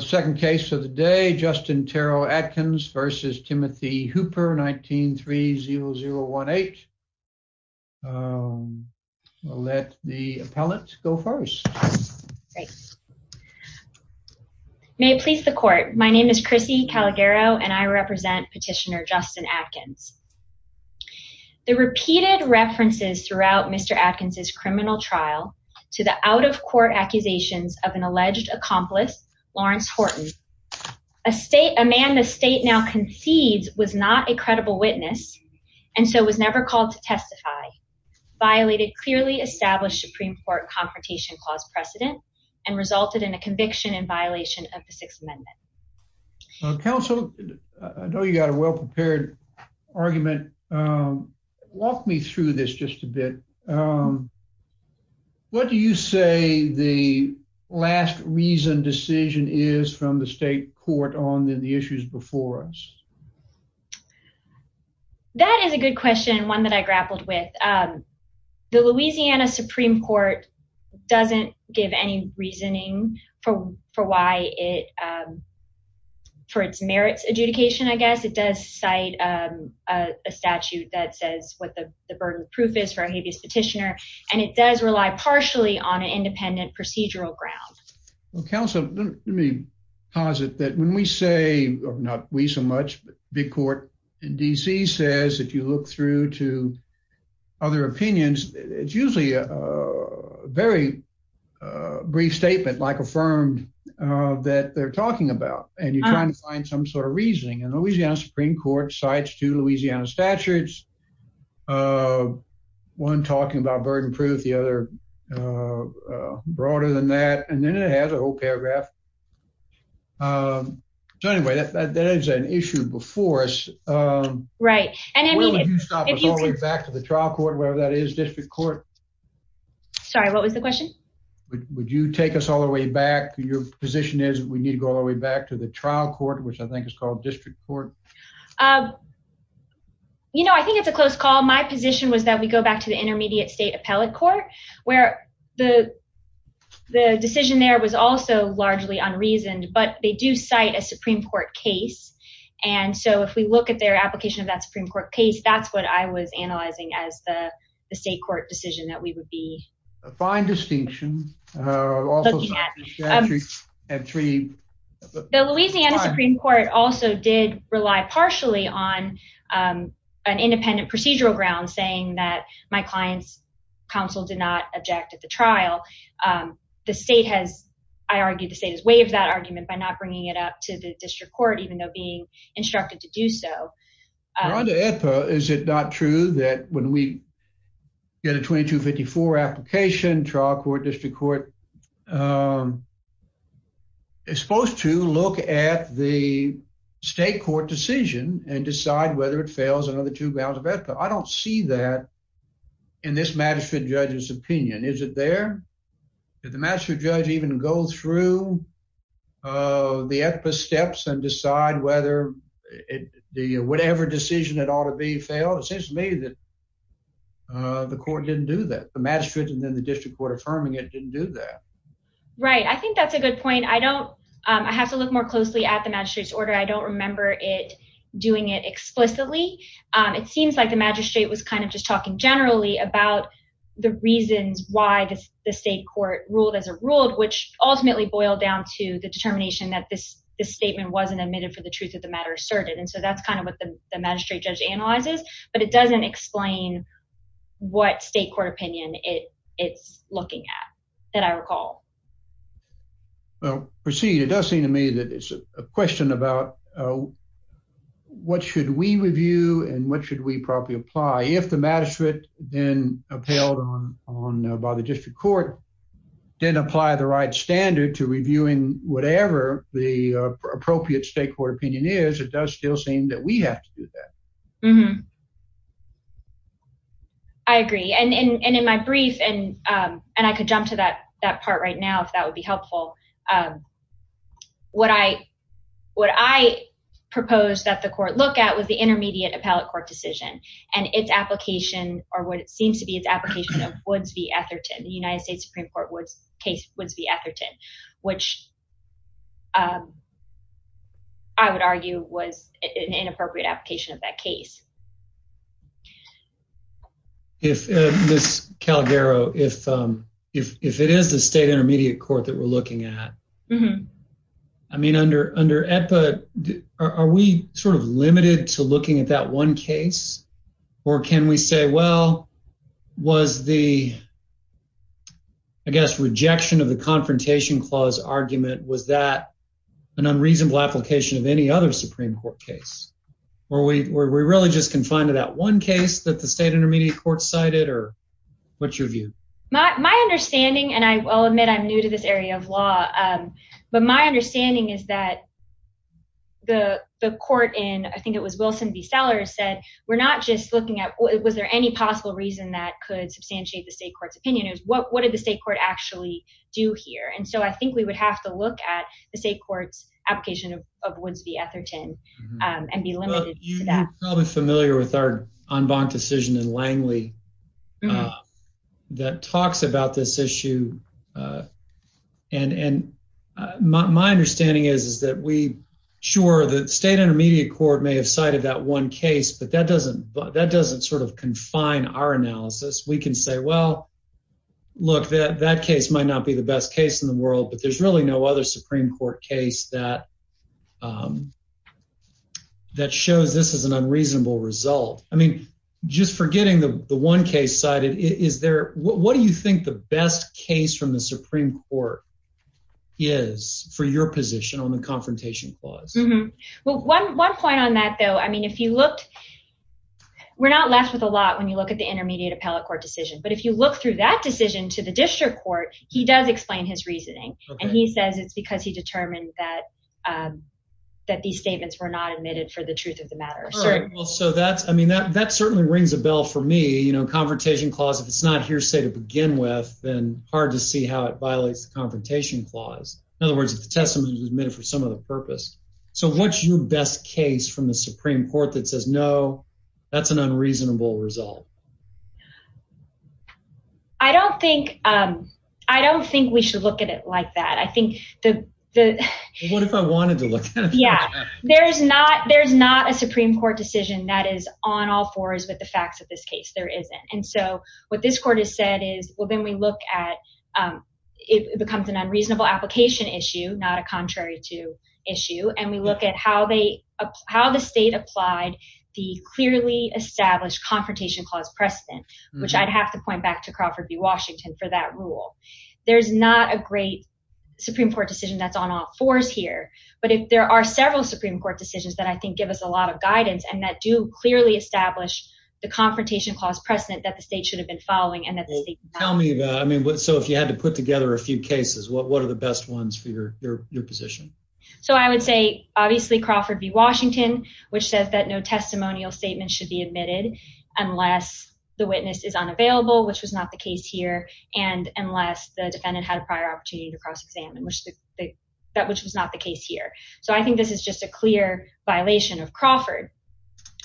Second case of the day, Justin Terrell Atkins v. Timothy Hooper, 19-30018 Let the appellate go first. Great. May it please the court, my name is Chrissy Calagaro and I represent Petitioner Justin Atkins. The repeated references throughout Mr. Atkins' criminal trial to the out-of-court accusations of an alleged accomplice, Lawrence Horton, a man the state now concedes was not a credible witness and so was never called to testify, violated clearly established Supreme Court Confrontation Clause precedent, and resulted in a conviction in violation of the Sixth Amendment. Counsel, I know you've got a well-prepared argument, walk me through this just a bit. What do you say the last reasoned decision is from the state court on the issues before us? That is a good question, one that I grappled with. The Louisiana Supreme Court doesn't give any reasoning for why it, for its merits adjudication I guess. It does cite a statute that says what the burden of proof is for a habeas petitioner and it does rely partially on an independent procedural ground. Counsel, let me posit that when we say, not we so much, but big court in DC says if you look through to other opinions, it's usually a very brief statement like affirmed that they're talking about and you're trying to find some sort of reasoning and Louisiana Supreme Court cites two Louisiana statutes, one talking about burden proof, the other broader than that, and then it has a whole paragraph, so anyway, that is an issue before us. Where would you stop us all the way back to the trial court, whatever that is, district court? Sorry, what was the question? Would you take us all the way back, your position is we need to go all the way back to the trial court, which I think is called district court? You know, I think it's a close call. My position was that we go back to the intermediate state appellate court where the decision there was also largely unreasoned, but they do cite a Supreme Court case and so if we look at their application of that Supreme Court case, that's what I was analyzing as the state court decision that we would be. A fine distinction. The Louisiana Supreme Court also did rely partially on an independent procedural ground saying that my client's counsel did not object at the trial. The state has, I argue, the state has waived that argument by not bringing it up to the district court even though being instructed to do so. On the EPA, is it not true that when we get a 2254 application, trial court, district court, it's supposed to look at the state court decision and decide whether it fails another two rounds of EPA. I don't see that in this magistrate judge's opinion. Is it there? Did the magistrate judge even go through the EPA steps and decide whether whatever decision it ought to be failed? It seems to me that the court didn't do that. The magistrate and then the district court affirming it didn't do that. Right. I think that's a good point. I don't, I have to look more closely at the magistrate's order. I don't remember it doing it explicitly. It seems like the magistrate was kind of just talking generally about the reasons why the state court ruled as a ruled, which ultimately boiled down to the determination that this statement wasn't admitted for the truth of the matter asserted. And so that's kind of what the magistrate judge analyzes, but it doesn't explain what state court opinion it's looking at that I recall. Well, proceed. And it does seem to me that it's a question about what should we review and what should we probably apply if the magistrate then upheld on by the district court didn't apply the right standard to reviewing whatever the appropriate state court opinion is, it does still seem that we have to do that. I agree. And in my brief, and I could jump to that part right now, if that would be helpful. What I proposed that the court look at was the intermediate appellate court decision and its application or what it seems to be its application of Woods v. Etherton, the United States Supreme Court case Woods v. Etherton, which I would argue was an inappropriate application of that case. Ms. Calgaro, if it is the state intermediate court that we're looking at, I mean, under EPA, are we sort of limited to looking at that one case? Or can we say, well, was the, I guess, rejection of the confrontation clause argument, was that an unreasonable application of any other Supreme Court case? Or are we really just confined to that one case that the state intermediate court cited? Or what's your view? My understanding, and I will admit I'm new to this area of law, but my understanding is that the court in, I think it was Wilson v. Sellers said, we're not just looking at, was there any possible reason that could substantiate the state court's opinion? What did the state court actually do here? And so I think we would have to look at the state court's application of Woods v. Etherton and be limited to that. You're probably familiar with our en banc decision in Langley that talks about this issue. And my understanding is that we, sure, the state intermediate court may have cited that one case, but that doesn't sort of confine our analysis. We can say, well, look, that case might not be the best case in the world, but there's really no other Supreme Court case that shows this as an unreasonable result. I mean, just forgetting the one case cited, is there, what do you think the best case from the Supreme Court is for your position on the confrontation clause? Well, one point on that, though, I mean, if you looked, we're not left with a lot when you look at the intermediate appellate court decision, but if you look through that decision to the district court, he does explain his reasoning. And he says it's because he determined that these statements were not admitted for the truth of the matter. All right. Well, so that's, I mean, that certainly rings a bell for me. You know, confrontation clause, if it's not hearsay to begin with, then hard to see how it violates the confrontation clause. In other words, if the testimony was admitted for some other purpose. So what's your best case from the Supreme Court that says, no, that's an unreasonable result? I don't think, I don't think we should look at it like that. I think the. Well, what if I wanted to look at it like that? Yeah. There's not, there's not a Supreme Court decision that is on all fours with the facts of this case. There isn't. And so what this court has said is, well, then we look at, it becomes an unreasonable application issue, not a contrary to issue. And we look at how they, how the state applied the clearly established confrontation clause precedent, which I'd have to point back to Crawford v. Washington for that rule. There's not a great Supreme Court decision that's on all fours here, but if there are several Supreme Court decisions that I think give us a lot of guidance and that do clearly establish the confrontation clause precedent that the state should have been following and that the state. Tell me about, I mean, so if you had to put together a few cases, what, what are the best ones for your, your, your position? So I would say, obviously Crawford v. Washington, which says that no testimonial statement should be admitted unless the witness is unavailable, which was not the case here. And unless the defendant had a prior opportunity to cross-examine, which the, that, which was not the case here. So I think this is just a clear violation of Crawford.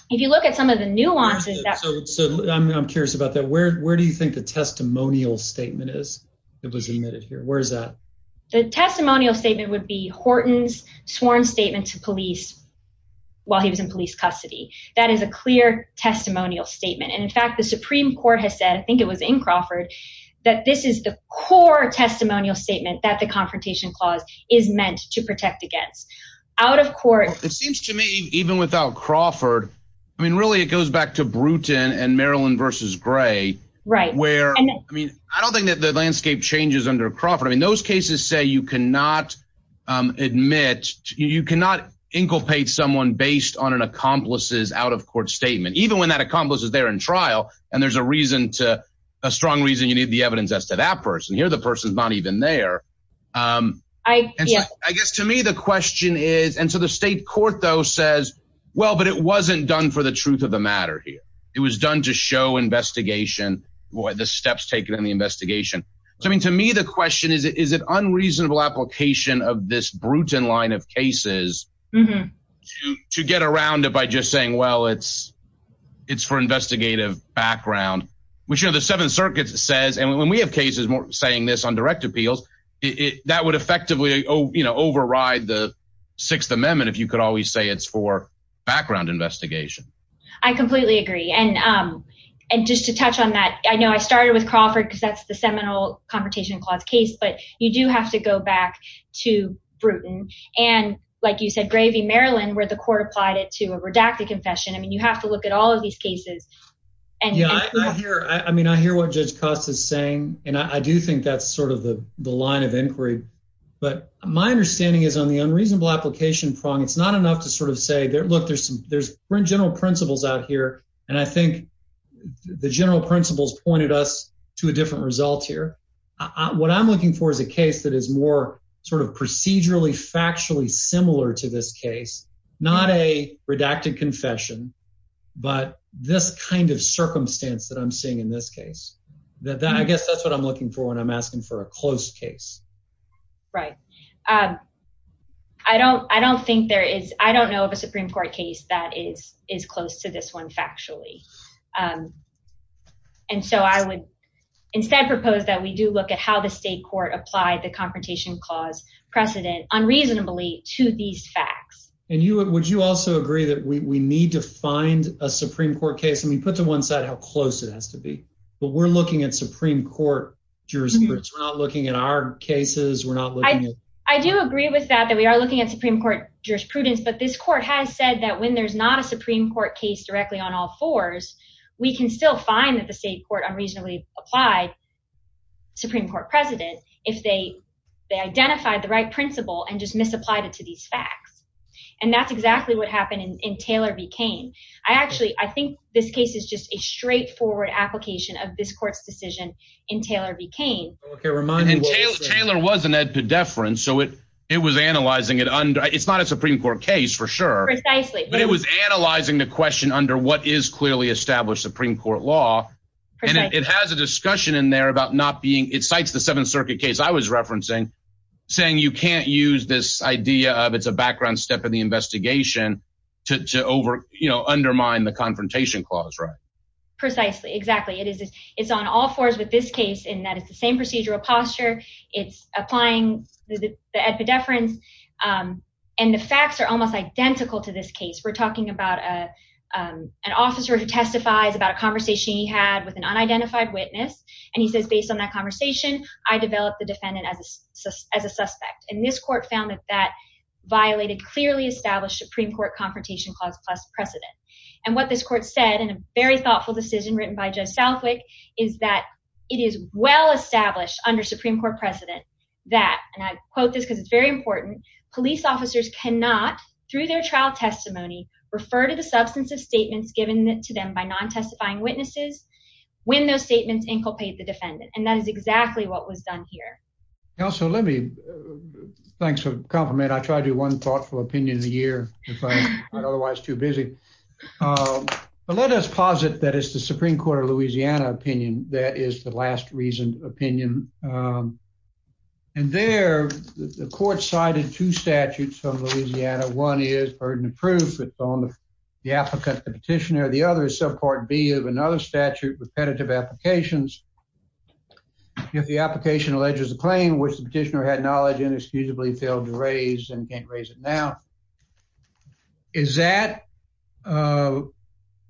If you look at some of the nuances that... So I'm curious about that. Where, where do you think the testimonial statement is that was admitted here? Where is that? The testimonial statement would be Horton's sworn statement to police while he was in police custody. That is a clear testimonial statement. And in fact, the Supreme Court has said, I think it was in Crawford, that this is the core testimonial statement that the confrontation clause is meant to protect against. Out of court... It seems to me, even without Crawford, I mean, really it goes back to Bruton and Maryland v. Gray. Right. Where, I mean, I don't think that the landscape changes under Crawford. I mean, those cases say you cannot admit, you cannot inculpate someone based on an accomplice's out of court statement, even when that accomplice is there in trial. And there's a reason to, a strong reason you need the evidence as to that person. Here, the person's not even there. I guess to me, the question is, and so the state court though says, well, but it wasn't done for the truth of the matter here. It was done to show investigation, the steps taken in the investigation. So, I mean, to me, the question is, is it unreasonable application of this Bruton line of cases to get around it by just saying, well, it's, it's for investigative background, which are the seven circuits says, and when we have cases saying this on direct appeals, that would effectively, you know, override the sixth amendment. If you could always say it's for background investigation. I completely agree. And, and just to touch on that, I know I started with Crawford because that's the seminal Confrontation Clause case, but you do have to go back to Bruton. And like you said, Gravy, Maryland, where the court applied it to a redacted confession. I mean, you have to look at all of these cases. And I hear, I mean, I hear what Judge Costa is saying. And I do think that's sort of the line of inquiry. But my understanding is on the unreasonable application prong. It's not enough to sort of say, look, there's some there's general principles out here. And I think the general principles pointed us to a different result here. What I'm looking for is a case that is more sort of procedurally factually similar to this case, not a redacted confession, but this kind of circumstance that I'm seeing in this case, that, that, I guess that's what I'm looking for when I'm asking for a close case. Right. Um, I don't, I don't think there is, I don't know of a Supreme court case that is, is close to this one factually. And so I would instead propose that we do look at how the state court applied the confrontation clause precedent unreasonably to these facts. And you, would you also agree that we need to find a Supreme court case? I mean, put to one side how close it has to be, but we're looking at Supreme court jurisprudence. We're not looking at our cases. We're not looking at. I do agree with that, that we are looking at Supreme court jurisprudence, but this court has said that when there's not a Supreme court case directly on all fours, we can still find that the state court unreasonably apply Supreme court precedent. If they, they identified the right principle and just misapplied it to these facts. And that's exactly what happened in Taylor v. Cain. I actually, I think this case is just a straightforward application of this court's decision in Taylor v. Cain. Okay. Remind him. Taylor wasn't at the deference. So it, it was analyzing it under. It's not a Supreme court case for sure, but it was analyzing the question under what is clearly established Supreme court law. And it has a discussion in there about not being, it cites the seventh circuit case I was referencing saying, you can't use this idea of it's a background step in the investigation to, to over, you know, undermine the confrontation clause. Right. Precisely. Exactly. It is. It's on all fours with this case in that it's the same procedural posture. It's applying the, the, the at the deference. And the facts are almost identical to this case. We're talking about a, an officer who testifies about a conversation he had with an unidentified witness. And he says, based on that conversation, I developed the defendant as a, as a suspect in this court found that that violated clearly established Supreme court confrontation clause plus precedent. And what this court said in a very thoughtful decision written by Joe Southwick is that it is well established under Supreme court precedent that, and I quote this cause it's very important. Police officers cannot through their trial testimony, refer to the substance of statements given to them by non testifying witnesses when those statements inculcate the defendant. And that is exactly what was done here. Yeah. So let me, thanks for compliment. I tried to do one thoughtful opinion of the year, otherwise too busy, but let us posit that it's the Supreme court of Louisiana opinion. That is the last reason opinion. And there the court cited two statutes from Louisiana. One is burden of proof on the applicant, the petitioner, the other subpart B of another statute repetitive applications. If the application alleges a claim which the petitioner had knowledge inexcusably failed to raise and can't raise it now. Is that, uh,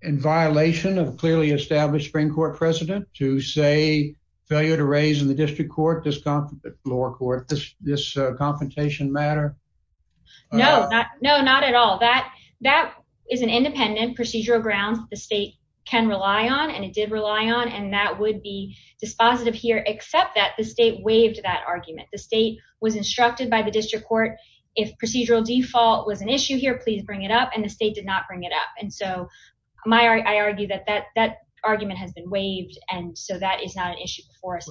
in violation of clearly established spring court precedent to say failure to raise in the district court, this lower court, this, this, uh, confrontation matter? No, not, no, not at all that, that is an independent procedural grounds. The state can rely on, and it did rely on, and that would be dispositive here, except that the state waived that argument. The state was instructed by the district court. If procedural default was an issue here, please bring it up. And the state did not bring it up. And so my, I argue that that, that argument has been waived. And so that is not an issue for us.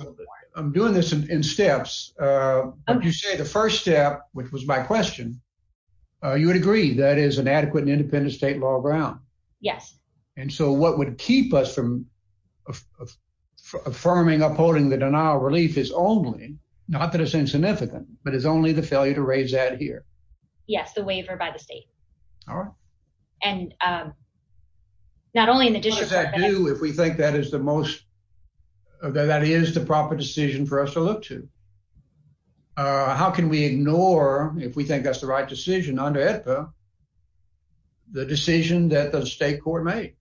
I'm doing this in steps. Uh, you say the first step, which was my question, uh, you would agree that is an adequate and independent state law ground. Yes. And so what would keep us from affirming upholding the denial of relief is only not that it's insignificant, but it's only the failure to raise that here. Yes. The waiver by the state. All right. And, um, not only in the district court, What does that do if we think that is the most, that is the proper decision for us to look to, uh, how can we ignore, if we think that's the right decision under AEDPA, the decision that the state court made?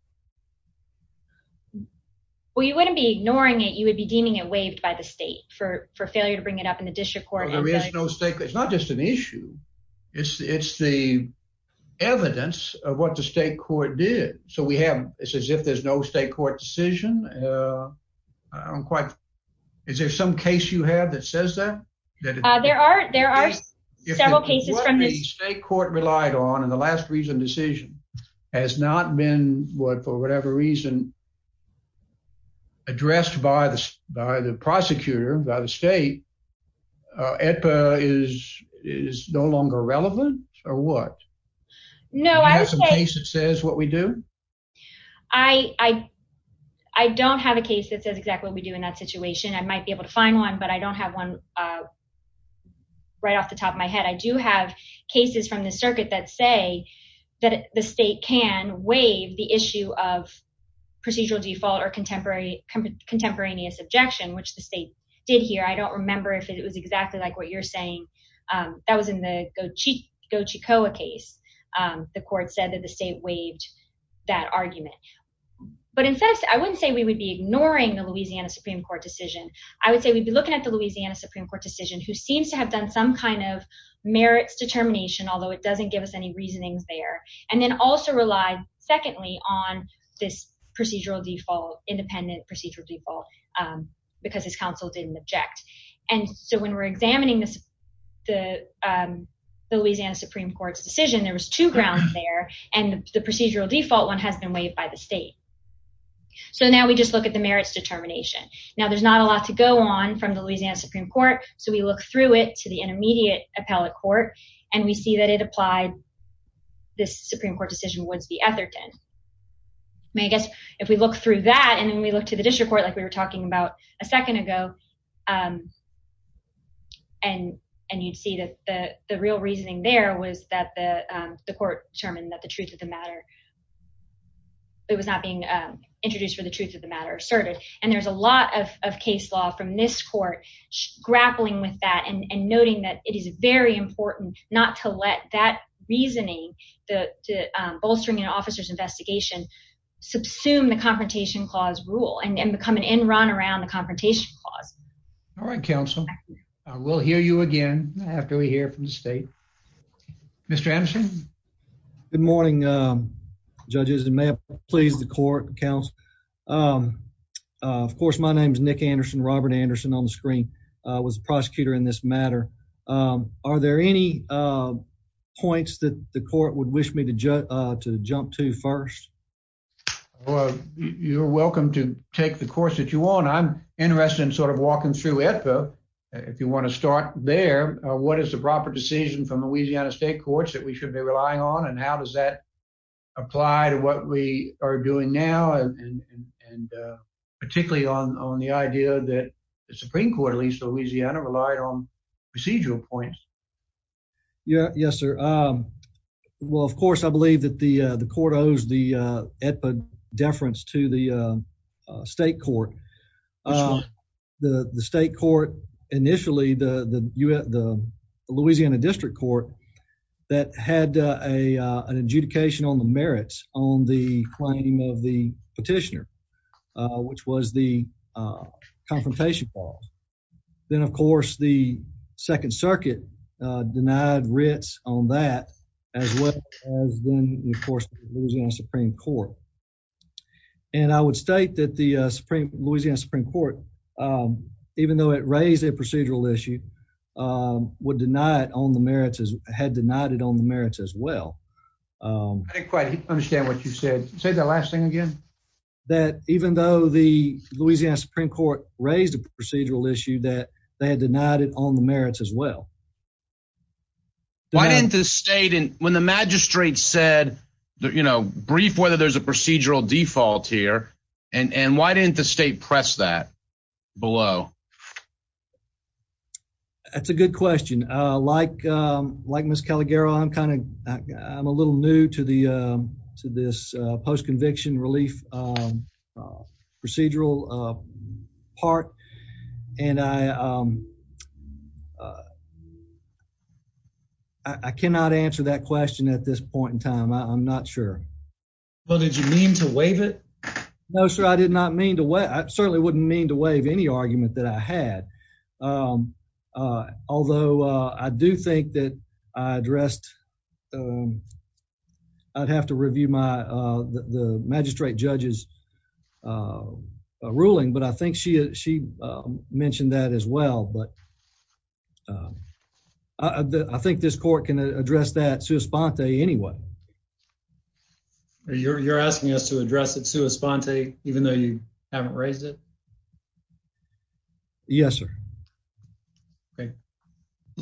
Well, you wouldn't be ignoring it, you would be deeming it waived by the state for, for judicial court. There is no state. It's not just an issue. It's, it's the evidence of what the state court did. So we have, it says, if there's no state court decision, uh, I don't quite, is there some case you have that says that, uh, there are, there are several cases from the state court relied on. And the last reason decision has not been what, for whatever reason addressed by the, by the prosecutor, by the state, uh, AEDPA is, is no longer relevant or what? No, I would say, I don't have a case that says exactly what we do in that situation. I might be able to find one, but I don't have one, uh, right off the top of my head. I do have cases from the circuit that say that the state can waive the issue of procedural default or contemporary contemporaneous objection, which the state did here. I don't remember if it was exactly like what you're saying. Um, that was in the Gochi, Gochicoa case. Um, the court said that the state waived that argument, but in fact, I wouldn't say we would be ignoring the Louisiana Supreme court decision. I would say we'd be looking at the Louisiana Supreme court decision who seems to have done some kind of merits determination, although it doesn't give us any reasonings there. And then also relied secondly on this procedural default, independent procedural default, um, because his counsel didn't object. And so when we're examining this, the, um, the Louisiana Supreme court's decision, there was two grounds there and the procedural default one has been waived by the state. So now we just look at the merits determination. Now there's not a lot to go on from the Louisiana Supreme court. So we look through it to the intermediate appellate court and we see that it applied. This Supreme court decision was the Etherton may, I guess if we look through that and then we look to the district court, like we were talking about a second ago, um, and, and you'd see that the real reasoning there was that the, um, the court determined that the truth of the matter, it was not being, um, introduced for the truth of the matter asserted. And there's a lot of, of case law from this court grappling with that and noting that it is very important not to let that reasoning, the, um, bolstering an officer's investigation subsume the confrontation clause rule and become an end run around the confrontation clause. All right. Counsel, I will hear you again after we hear from the state, Mr. Anderson. Good morning. Good morning. Um, judges and may please the court counts. Um, uh, of course, my name is Nick Anderson, Robert Anderson on the screen, uh, was a prosecutor in this matter. Um, are there any, uh, points that the court would wish me to ju, uh, to jump to first? Well, you're welcome to take the course that you want. I'm interested in sort of walking through it, but if you want to start there, what is the proper decision from Louisiana state courts that we should be relying on and how does that apply to what we are doing now and, and, uh, particularly on, on the idea that the Supreme Court, at least Louisiana relied on procedural points. Yeah. Yes, sir. Um, well, of course, I believe that the, uh, the court owes the, uh, at the deference to the, uh, uh, state court, um, the state court initially, the, the U S the Louisiana district court that had, uh, a, uh, an adjudication on the merits on the claim of the petitioner, uh, which was the, uh, confrontation falls. Then, of course, the second circuit, uh, denied Ritz on that as well as then, of course, the Louisiana Supreme Court. And I would state that the, uh, Supreme Louisiana Supreme Court, um, even though it raised a procedural issue that they had denied it on the merits as well, um, quite understand what you said, say the last thing again, that even though the Louisiana Supreme Court raised a procedural issue that they had denied it on the merits as well, why didn't the state and when the magistrate said, you know, brief, whether there's a procedural default here and why didn't the state press that below? That's a good question. Uh, like, um, like Miss Caliguero, I'm kind of, I'm a little new to the, uh, to this post conviction relief, um, procedural, uh, part. And I, um, uh, I cannot answer that question at this point in time. I'm not sure. Well, did you mean to wave it? No, sir. No, I did not mean to. What? I certainly wouldn't mean to wave any argument that I had, um, uh, although I do think that I addressed, um, I'd have to review my, uh, the magistrate judges, uh, ruling. But I think she, uh, she mentioned that as well, but, uh, I think this court can address that. Sue Esponte. Anyway, you're, you're asking us to address it, Sue Esponte, even though you haven't raised it. Yes, sir. Okay.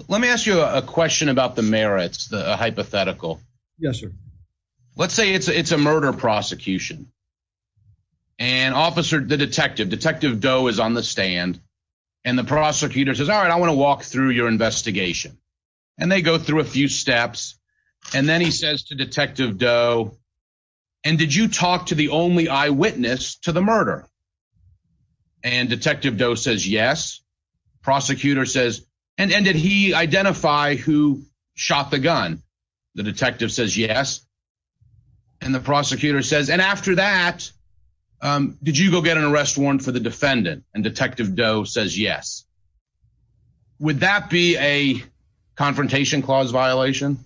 Let me ask you a question about the merits, the hypothetical. Yes, sir. Let's say it's a, it's a murder prosecution and officer, the detective detective doe is on the stand and the prosecutor says, all right, I want to walk through your investigation and they go through a few steps. And then he says to detective doe, and did you talk to the only eyewitness to the murder? And detective doe says, yes. Prosecutor says, and, and did he identify who shot the gun? The detective says yes. And the prosecutor says, and after that, um, did you go get an arrest warrant for the defendant? And detective doe says yes. Would that be a confrontation clause violation?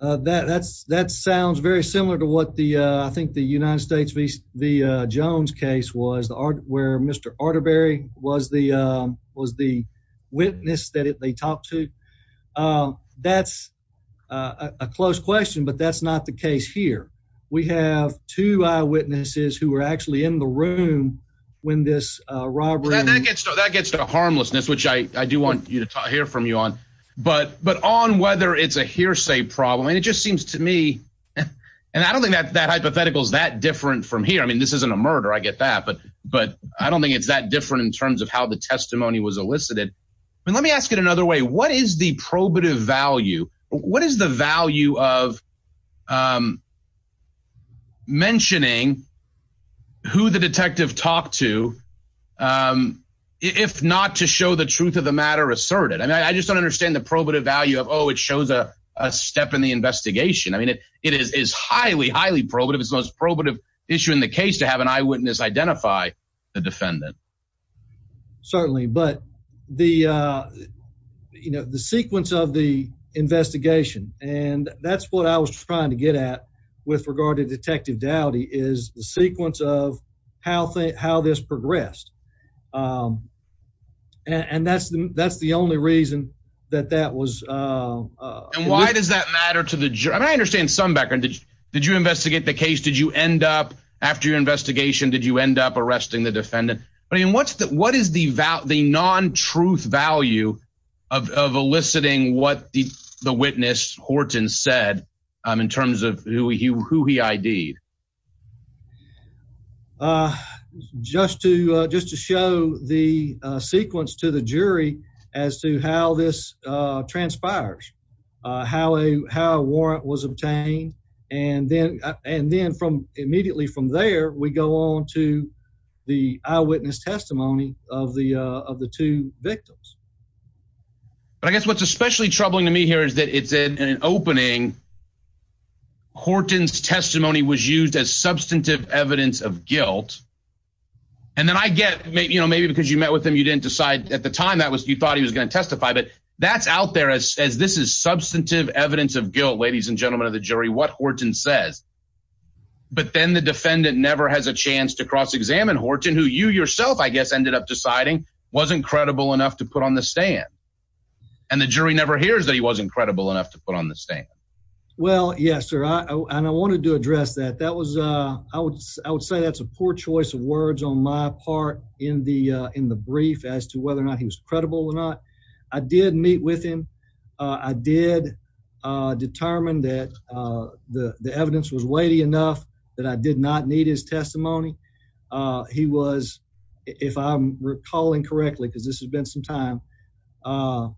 Uh, that, that's, that sounds very similar to what the, uh, I think the United States V the, uh, Jones case was the art where Mr. Arterbury was the, um, was the witness that they talked to. Um, that's a close question, but that's not the case here. We have two eyewitnesses who were actually in the room when this, uh, robbery, that gets to the harmlessness, which I do want you to hear from you on, but, but on whether it's a hearsay problem. And it just seems to me, and I don't think that that hypothetical is that different from here. I mean, this isn't a murder. I get that, but, but I don't think it's that different in terms of how the testimony was elicited. I mean, let me ask it another way. What is the probative value? What is the value of, um, mentioning who the detective talked to, um, if not to show the truth of the matter asserted, I mean, I just don't understand the probative value of, Oh, it shows a step in the investigation. I mean, it, it is, is highly, highly probative. It's the most probative issue in the case to have an eyewitness identify the defendant. Certainly. But the, uh, you know, the sequence of the investigation and that's what I was trying to get at with regard to detective Dowdy is the sequence of how, how this progressed. Um, and that's, that's the only reason that that was, uh, uh, why does that matter to the jury? I understand some background. Did you investigate the case? Did you end up after your investigation, did you end up arresting the defendant? I mean, what's the, what is the value, the non-truth value of, of eliciting what the, the witness Horton said, um, in terms of who he, who he ID'd, uh, just to, uh, just to show the sequence to the jury as to how this, uh, transpires, uh, how a, how a warrant was obtained. And then, uh, and then from immediately from there, we go on to the eyewitness testimony of the, uh, of the two victims, but I guess what's especially troubling to me here is that it's in an opening Horton's testimony was used as substantive evidence of guilt. And then I get maybe, you know, maybe because you met with him, you didn't decide at the time that was, you thought he was going to testify, but that's out there as, as this is substantive evidence of guilt, ladies and gentlemen of the jury, what Horton says. But then the defendant never has a chance to cross-examine Horton, who you yourself, I guess, ended up deciding wasn't credible enough to put on the stand. And the jury never hears that he wasn't credible enough to put on the stand. Well, yeah, sir. I, and I wanted to address that. That was a, I would, I would say that's a poor choice of words on my part in the, uh, in the brief as to whether or not he was credible or not. I did meet with him. Uh, I did, uh, determine that, uh, the, the evidence was weighty enough that I did not need his testimony. Uh, he was, if I'm recalling correctly, cause this has been some time, uh,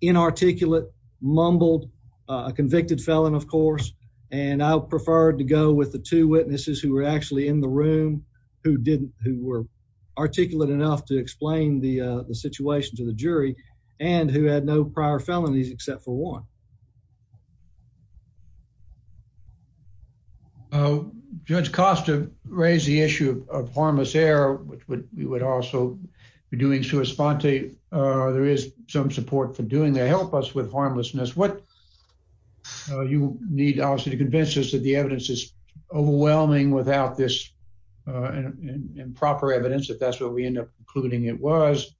inarticulate mumbled, uh, convicted felon, of course. And I preferred to go with the two witnesses who were actually in the room who didn't, who were articulate enough to explain the, uh, the situation to the jury and who had no prior felonies except for one. Oh, judge Costa raised the issue of harmless air, which would, we would also be doing sua sponte. Uh, there is some support for doing that. Help us with harmlessness. What, uh, you need obviously to convince us that the evidence is overwhelming without this, uh, and proper evidence. If that's what we end up including, it was,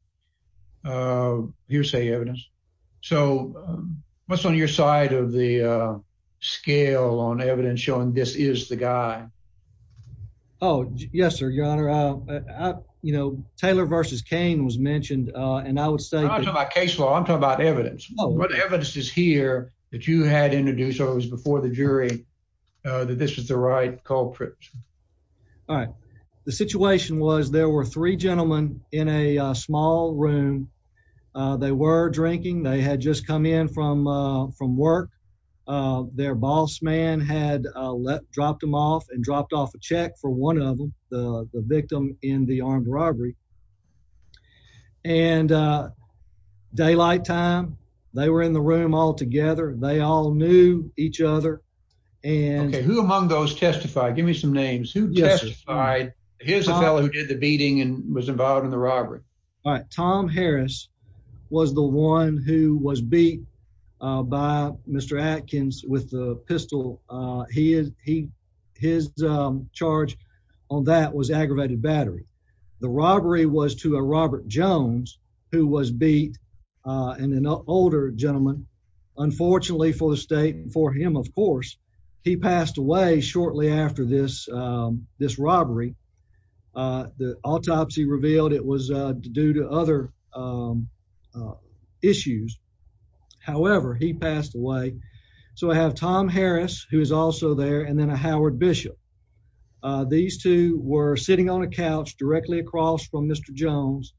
uh, hearsay evidence. So, um, what's on your side of the, uh, scale on evidence showing this is the guy? Oh, yes, sir. Your honor. Uh, you know, Taylor versus Kane was mentioned, uh, and I would say I'm talking about case law. I'm talking about evidence. What evidence is here that you had introduced or it was before the jury, uh, that this was a right culprit? All right. The situation was there were three gentlemen in a small room. Uh, they were drinking. They had just come in from, uh, from work. Uh, their boss man had, uh, let, dropped them off and dropped off a check for one of them, the victim in the armed robbery and, uh, daylight time they were in the room altogether. They all knew each other. And who among those testified? Give me some names who testified. Here's a fellow who did the beating and was involved in the robbery. All right. Tom Harris was the one who was beat, uh, by Mr. Atkins with the pistol. Uh, he is, he, his, um, charge on that was aggravated battery. The robbery was to a Robert Jones who was beat, uh, and an older gentleman, unfortunately for the state and for him, of course, he passed away shortly after this, um, this robbery. Uh, the autopsy revealed it was, uh, due to other, um, uh, issues. However, he passed away. So I have Tom Harris who is also there. And then a Howard Bishop. Uh, these two were sitting on a couch directly across from Mr. Jones.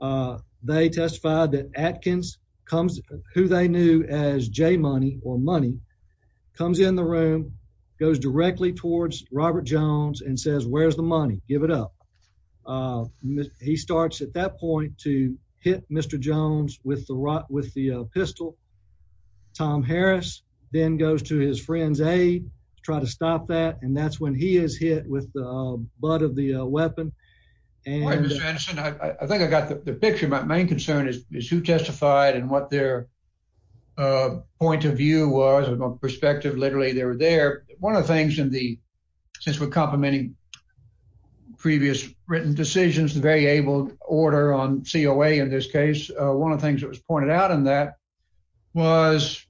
Uh, they testified that Atkins comes who they knew as J money or money comes in the room, goes directly towards Robert Jones and says, where's the money? Give it up. Uh, he starts at that point to hit Mr. Jones with the rock with the pistol. Tom Harris then goes to his friend's aid, try to stop that. And that's when he is hit with the butt of the weapon. And I think I got the picture. My main concern is, is who testified and what their, uh, point of view was about perspective. Literally they were there. One of the things in the, since we're complimenting previous written decisions, the very abled order on COA, in this case, uh, one of the things that was pointed out in that was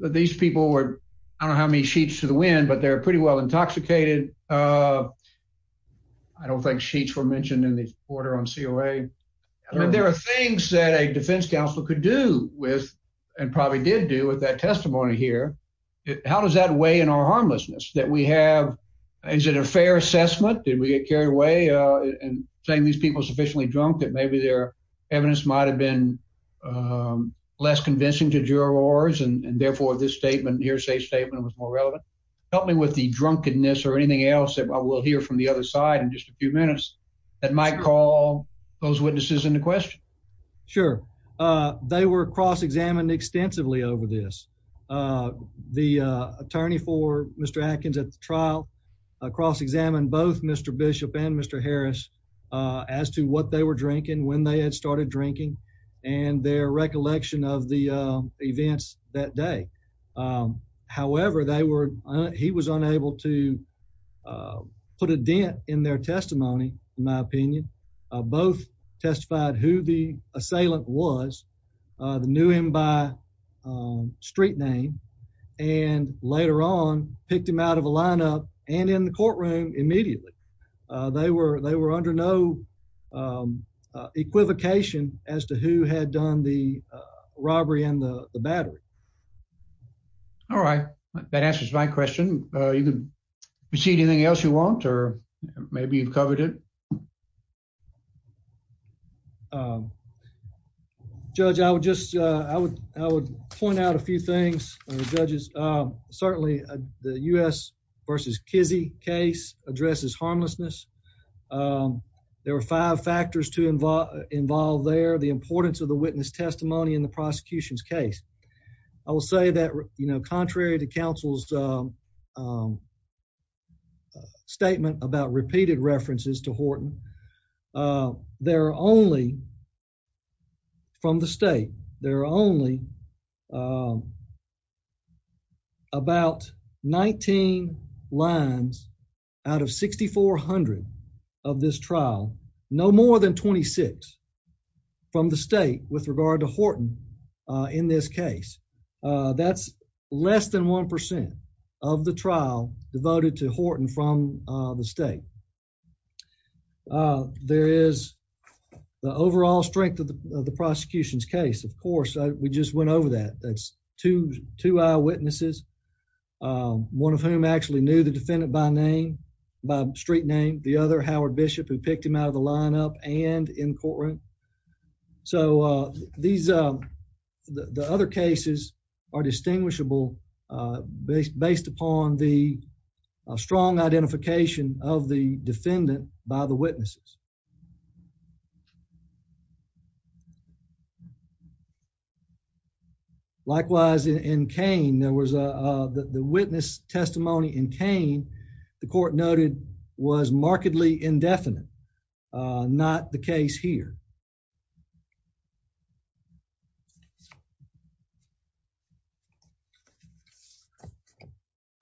that these people were, I don't know how many sheets to the wind, but they're pretty well intoxicated. Uh, I don't think sheets were mentioned in the order on COA. There are things that a defense counselor could do with, and probably did do with that testimony here. How does that weigh in our harmlessness that we have? Is it a fair assessment? Did we get carried away, uh, and saying these people sufficiently drunk that maybe their evidence might've been, um, less convincing to jurors and therefore this statement hearsay statement was more relevant. Help me with the drunkenness or anything else that I will hear from the other side in just a few minutes that might call those witnesses into question. Sure. Uh, they were cross-examined extensively over this. Uh, the, uh, attorney for Mr. Atkins at the trial, uh, cross-examined both Mr. Bishop and Mr. Harris, uh, as to what they were drinking, when they had started drinking and their recollection of the, uh, events that day. Um, however they were, he was unable to, uh, put a dent in their testimony. My opinion, uh, both testified who the assailant was, uh, the knew him by, um, street name and later on picked him out of a lineup and in the courtroom. Immediately. Uh, they were, they were under no, um, uh, equivocation as to who had done the, uh, robbery and the battery. All right. That answers my question. Uh, you can proceed anything else you want, or maybe you've covered it. Um, judge, I would just, uh, I would, I would point out a few things. Judges. Um, certainly, uh, the U S versus Kizzy case addresses harmlessness. Um, there were five factors to involve involved there. The importance of the witness testimony in the prosecution's case. I will say that, you know, contrary to counsel's, um, um, statement about repeated references to Horton, uh, there are only from the state. There are only, um, about 19 lines out of 6,400 of this trial, no more than Uh, that's less than 1% of the trial devoted to Horton from, uh, the state. Uh, there is the overall strength of the prosecution's case. Of course, we just went over that. That's two, two eyewitnesses. Um, one of whom actually knew the defendant by name, by street name, the other Howard Bishop who picked him out of the lineup and in courtroom. So, uh, these, um, the other cases are distinguishable, uh, based upon the strong identification of the defendant by the witnesses. Likewise, in Cain, there was a, uh, the witness testimony in Cain, the court noted was markedly indefinite, uh, not the case here.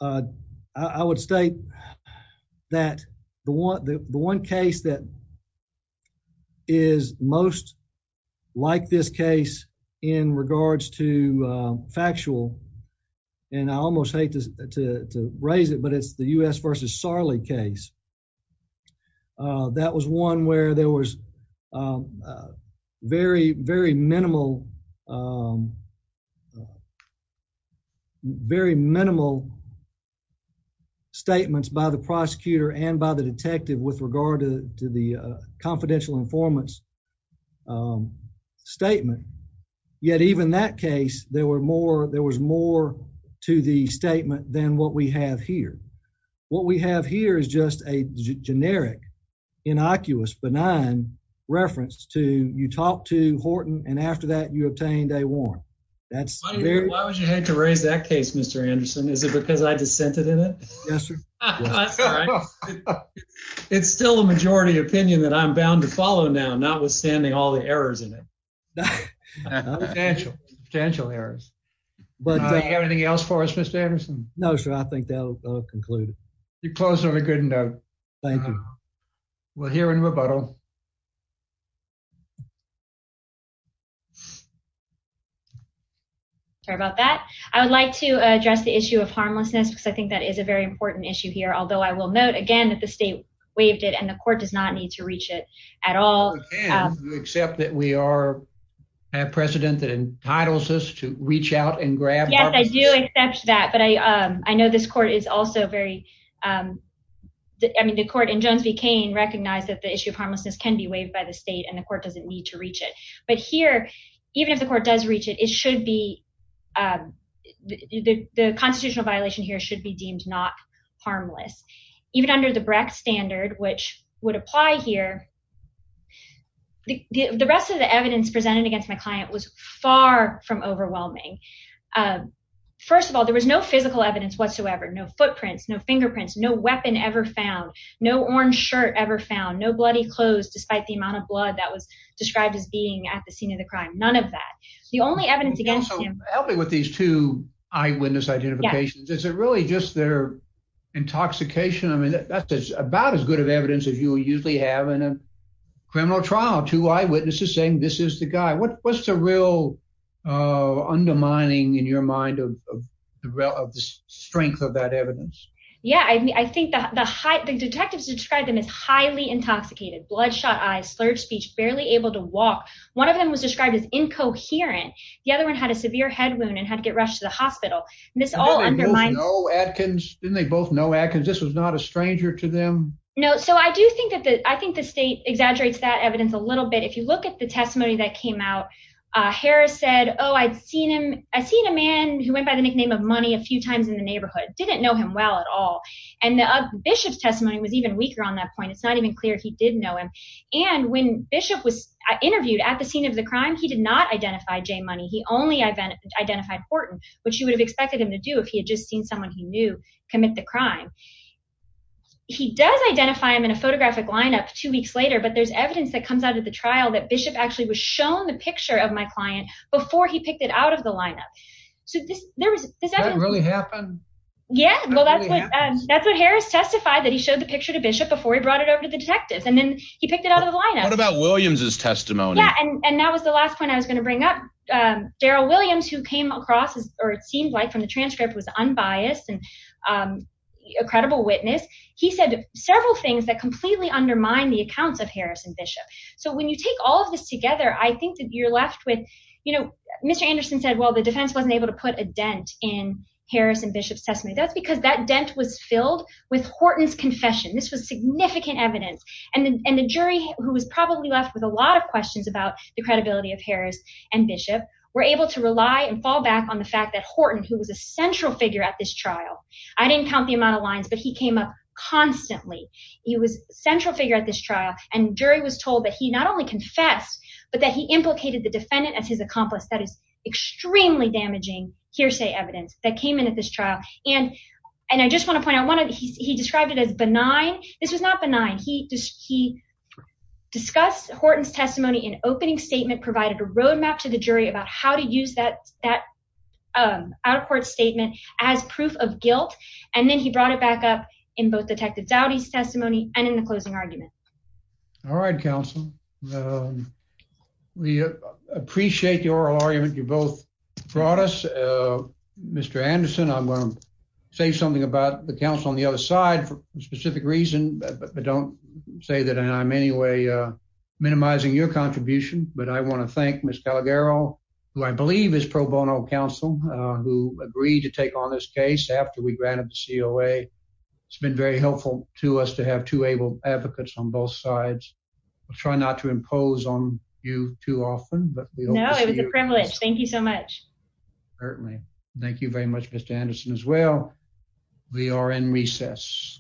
Uh, I would state that the one, the one case that is most like this case in regards to, uh, factual, and I almost hate to raise it, but it's the U.S. versus Sarli case. Uh, that was one where there was, um, uh, very, very minimal, um, very minimal statements by the prosecutor and by the detective with regard to the, to the, uh, confidential informants, um, statement. Yet even that case, there were more, there was more to the statement than what we have here. What we have here is just a generic, innocuous, benign reference to you talk to Horton and after that you obtained a warrant. That's weird. Why would you hate to raise that case, Mr. Anderson? Is it because I dissented in it? Yes, sir. It's still a majority opinion that I'm bound to follow now, not withstanding all the errors in it. Potential potential errors. But you have anything else for us, Mr. Anderson? No, sir. I think that'll conclude. You closed on a good note. Thank you. We'll hear in rebuttal. Sorry about that. I would like to address the issue of harmlessness because I think that is a very important issue here. Although I will note again that the state waived it and the court does not need to reach it at all. You accept that we are a precedent that entitles us to reach out and grab? Yes, I do accept that. But I, um, I know this court is also very, um, I mean, the court in Jones v. Kane recognized that the issue of harmlessness can be waived by the state and the court doesn't need to reach it, but here, even if the court does reach it, it should be. Um, the, the, the constitutional violation here should be deemed not harmless, even under the Brecht standard, which would apply here. The, the, the rest of the evidence presented against my client was far from overwhelming. Um, first of all, there was no physical evidence whatsoever, no footprints, no fingerprints, no weapon ever found, no orange shirt ever found, no bloody clothes, despite the amount of blood that was described as being at the scene of the crime. None of that. The only evidence against him. Help me with these two eyewitness identifications. Is it really just their intoxication? I mean, that's just about as good of evidence as you will usually have in a criminal trial, two eyewitnesses saying, this is the guy. What's the real, uh, undermining in your mind of the strength of that evidence? Yeah. I mean, I think the, the high detectives described them as highly intoxicated, bloodshot eyes, slurred speech, barely able to walk. One of them was described as incoherent. The other one had a severe head wound and had to get rushed to the hospital. And this all undermined. Didn't they both know Adkins? This was not a stranger to them? No. So I do think that the, I think the state exaggerates that evidence a little bit. If you look at the testimony that came out, uh, Harris said, oh, I'd seen him. I seen a man who went by the nickname of money a few times in the neighborhood. Didn't know him well at all. And the Bishop's testimony was even weaker on that point. It's not even clear. He didn't know him. And when Bishop was interviewed at the scene of the crime, he did not identify Jay money. He only identified Horton, which you would have expected him to do if he had just seen someone who knew commit the crime. He does identify him in a photographic lineup two weeks later, but there's evidence that comes out of the trial that Bishop actually was shown the picture of my client before he picked it out of the lineup. So there was, does that really happen? Yeah. Well, that's what, um, that's what Harris testified that he showed the picture to Bishop before he brought it over to the detectives. And then he picked it out of the lineup. What about Williams's testimony? Yeah. And that was the last point I was going to bring up. Um, Daryl Williams who came across as, or it seemed like from the transcript was unbiased and, um, a credible witness. He said several things that completely undermine the accounts of Harris and Bishop. So when you take all of this together, I think that you're left with, you know, Mr. Anderson said, well, the defense wasn't able to put a dent in Harris and Bishop's testimony. That's because that dent was filled with Horton's confession. This was significant evidence. And then, and the jury who was probably left with a lot of questions about the credibility of Harris and Bishop were able to rely and fall back on the fact that Horton, who was a central figure at this trial, I didn't count the amount of lines, but he came up constantly. He was central figure at this trial. And jury was told that he not only confessed, but that he implicated the defendant as his accomplice. That is extremely damaging hearsay evidence that came in at this trial. And, and I just want to point out one of the, he described it as benign. This was not benign. He just, he discussed Horton's testimony in opening statement, provided a roadmap to the jury about how to use that, that, um, out of court statement as proof of guilt. And then he brought it back up in both detective Dowdy's testimony and in the closing argument. All right. Counsel, um, we appreciate your argument. You both brought us, uh, Mr. Anderson. I'm going to say something about the counsel on the other side for a specific reason, but don't say that. And I'm anyway, uh, minimizing your contribution, but I want to thank Ms. Calagaro, who I believe is pro bono counsel, uh, who agreed to take on this case after we granted the COA. It's been very helpful to us to have two able advocates on both sides. We'll try not to impose on you too often, but it was a privilege. Thank you so much. Certainly. Thank you very much, Mr. Anderson as well. We are in recess.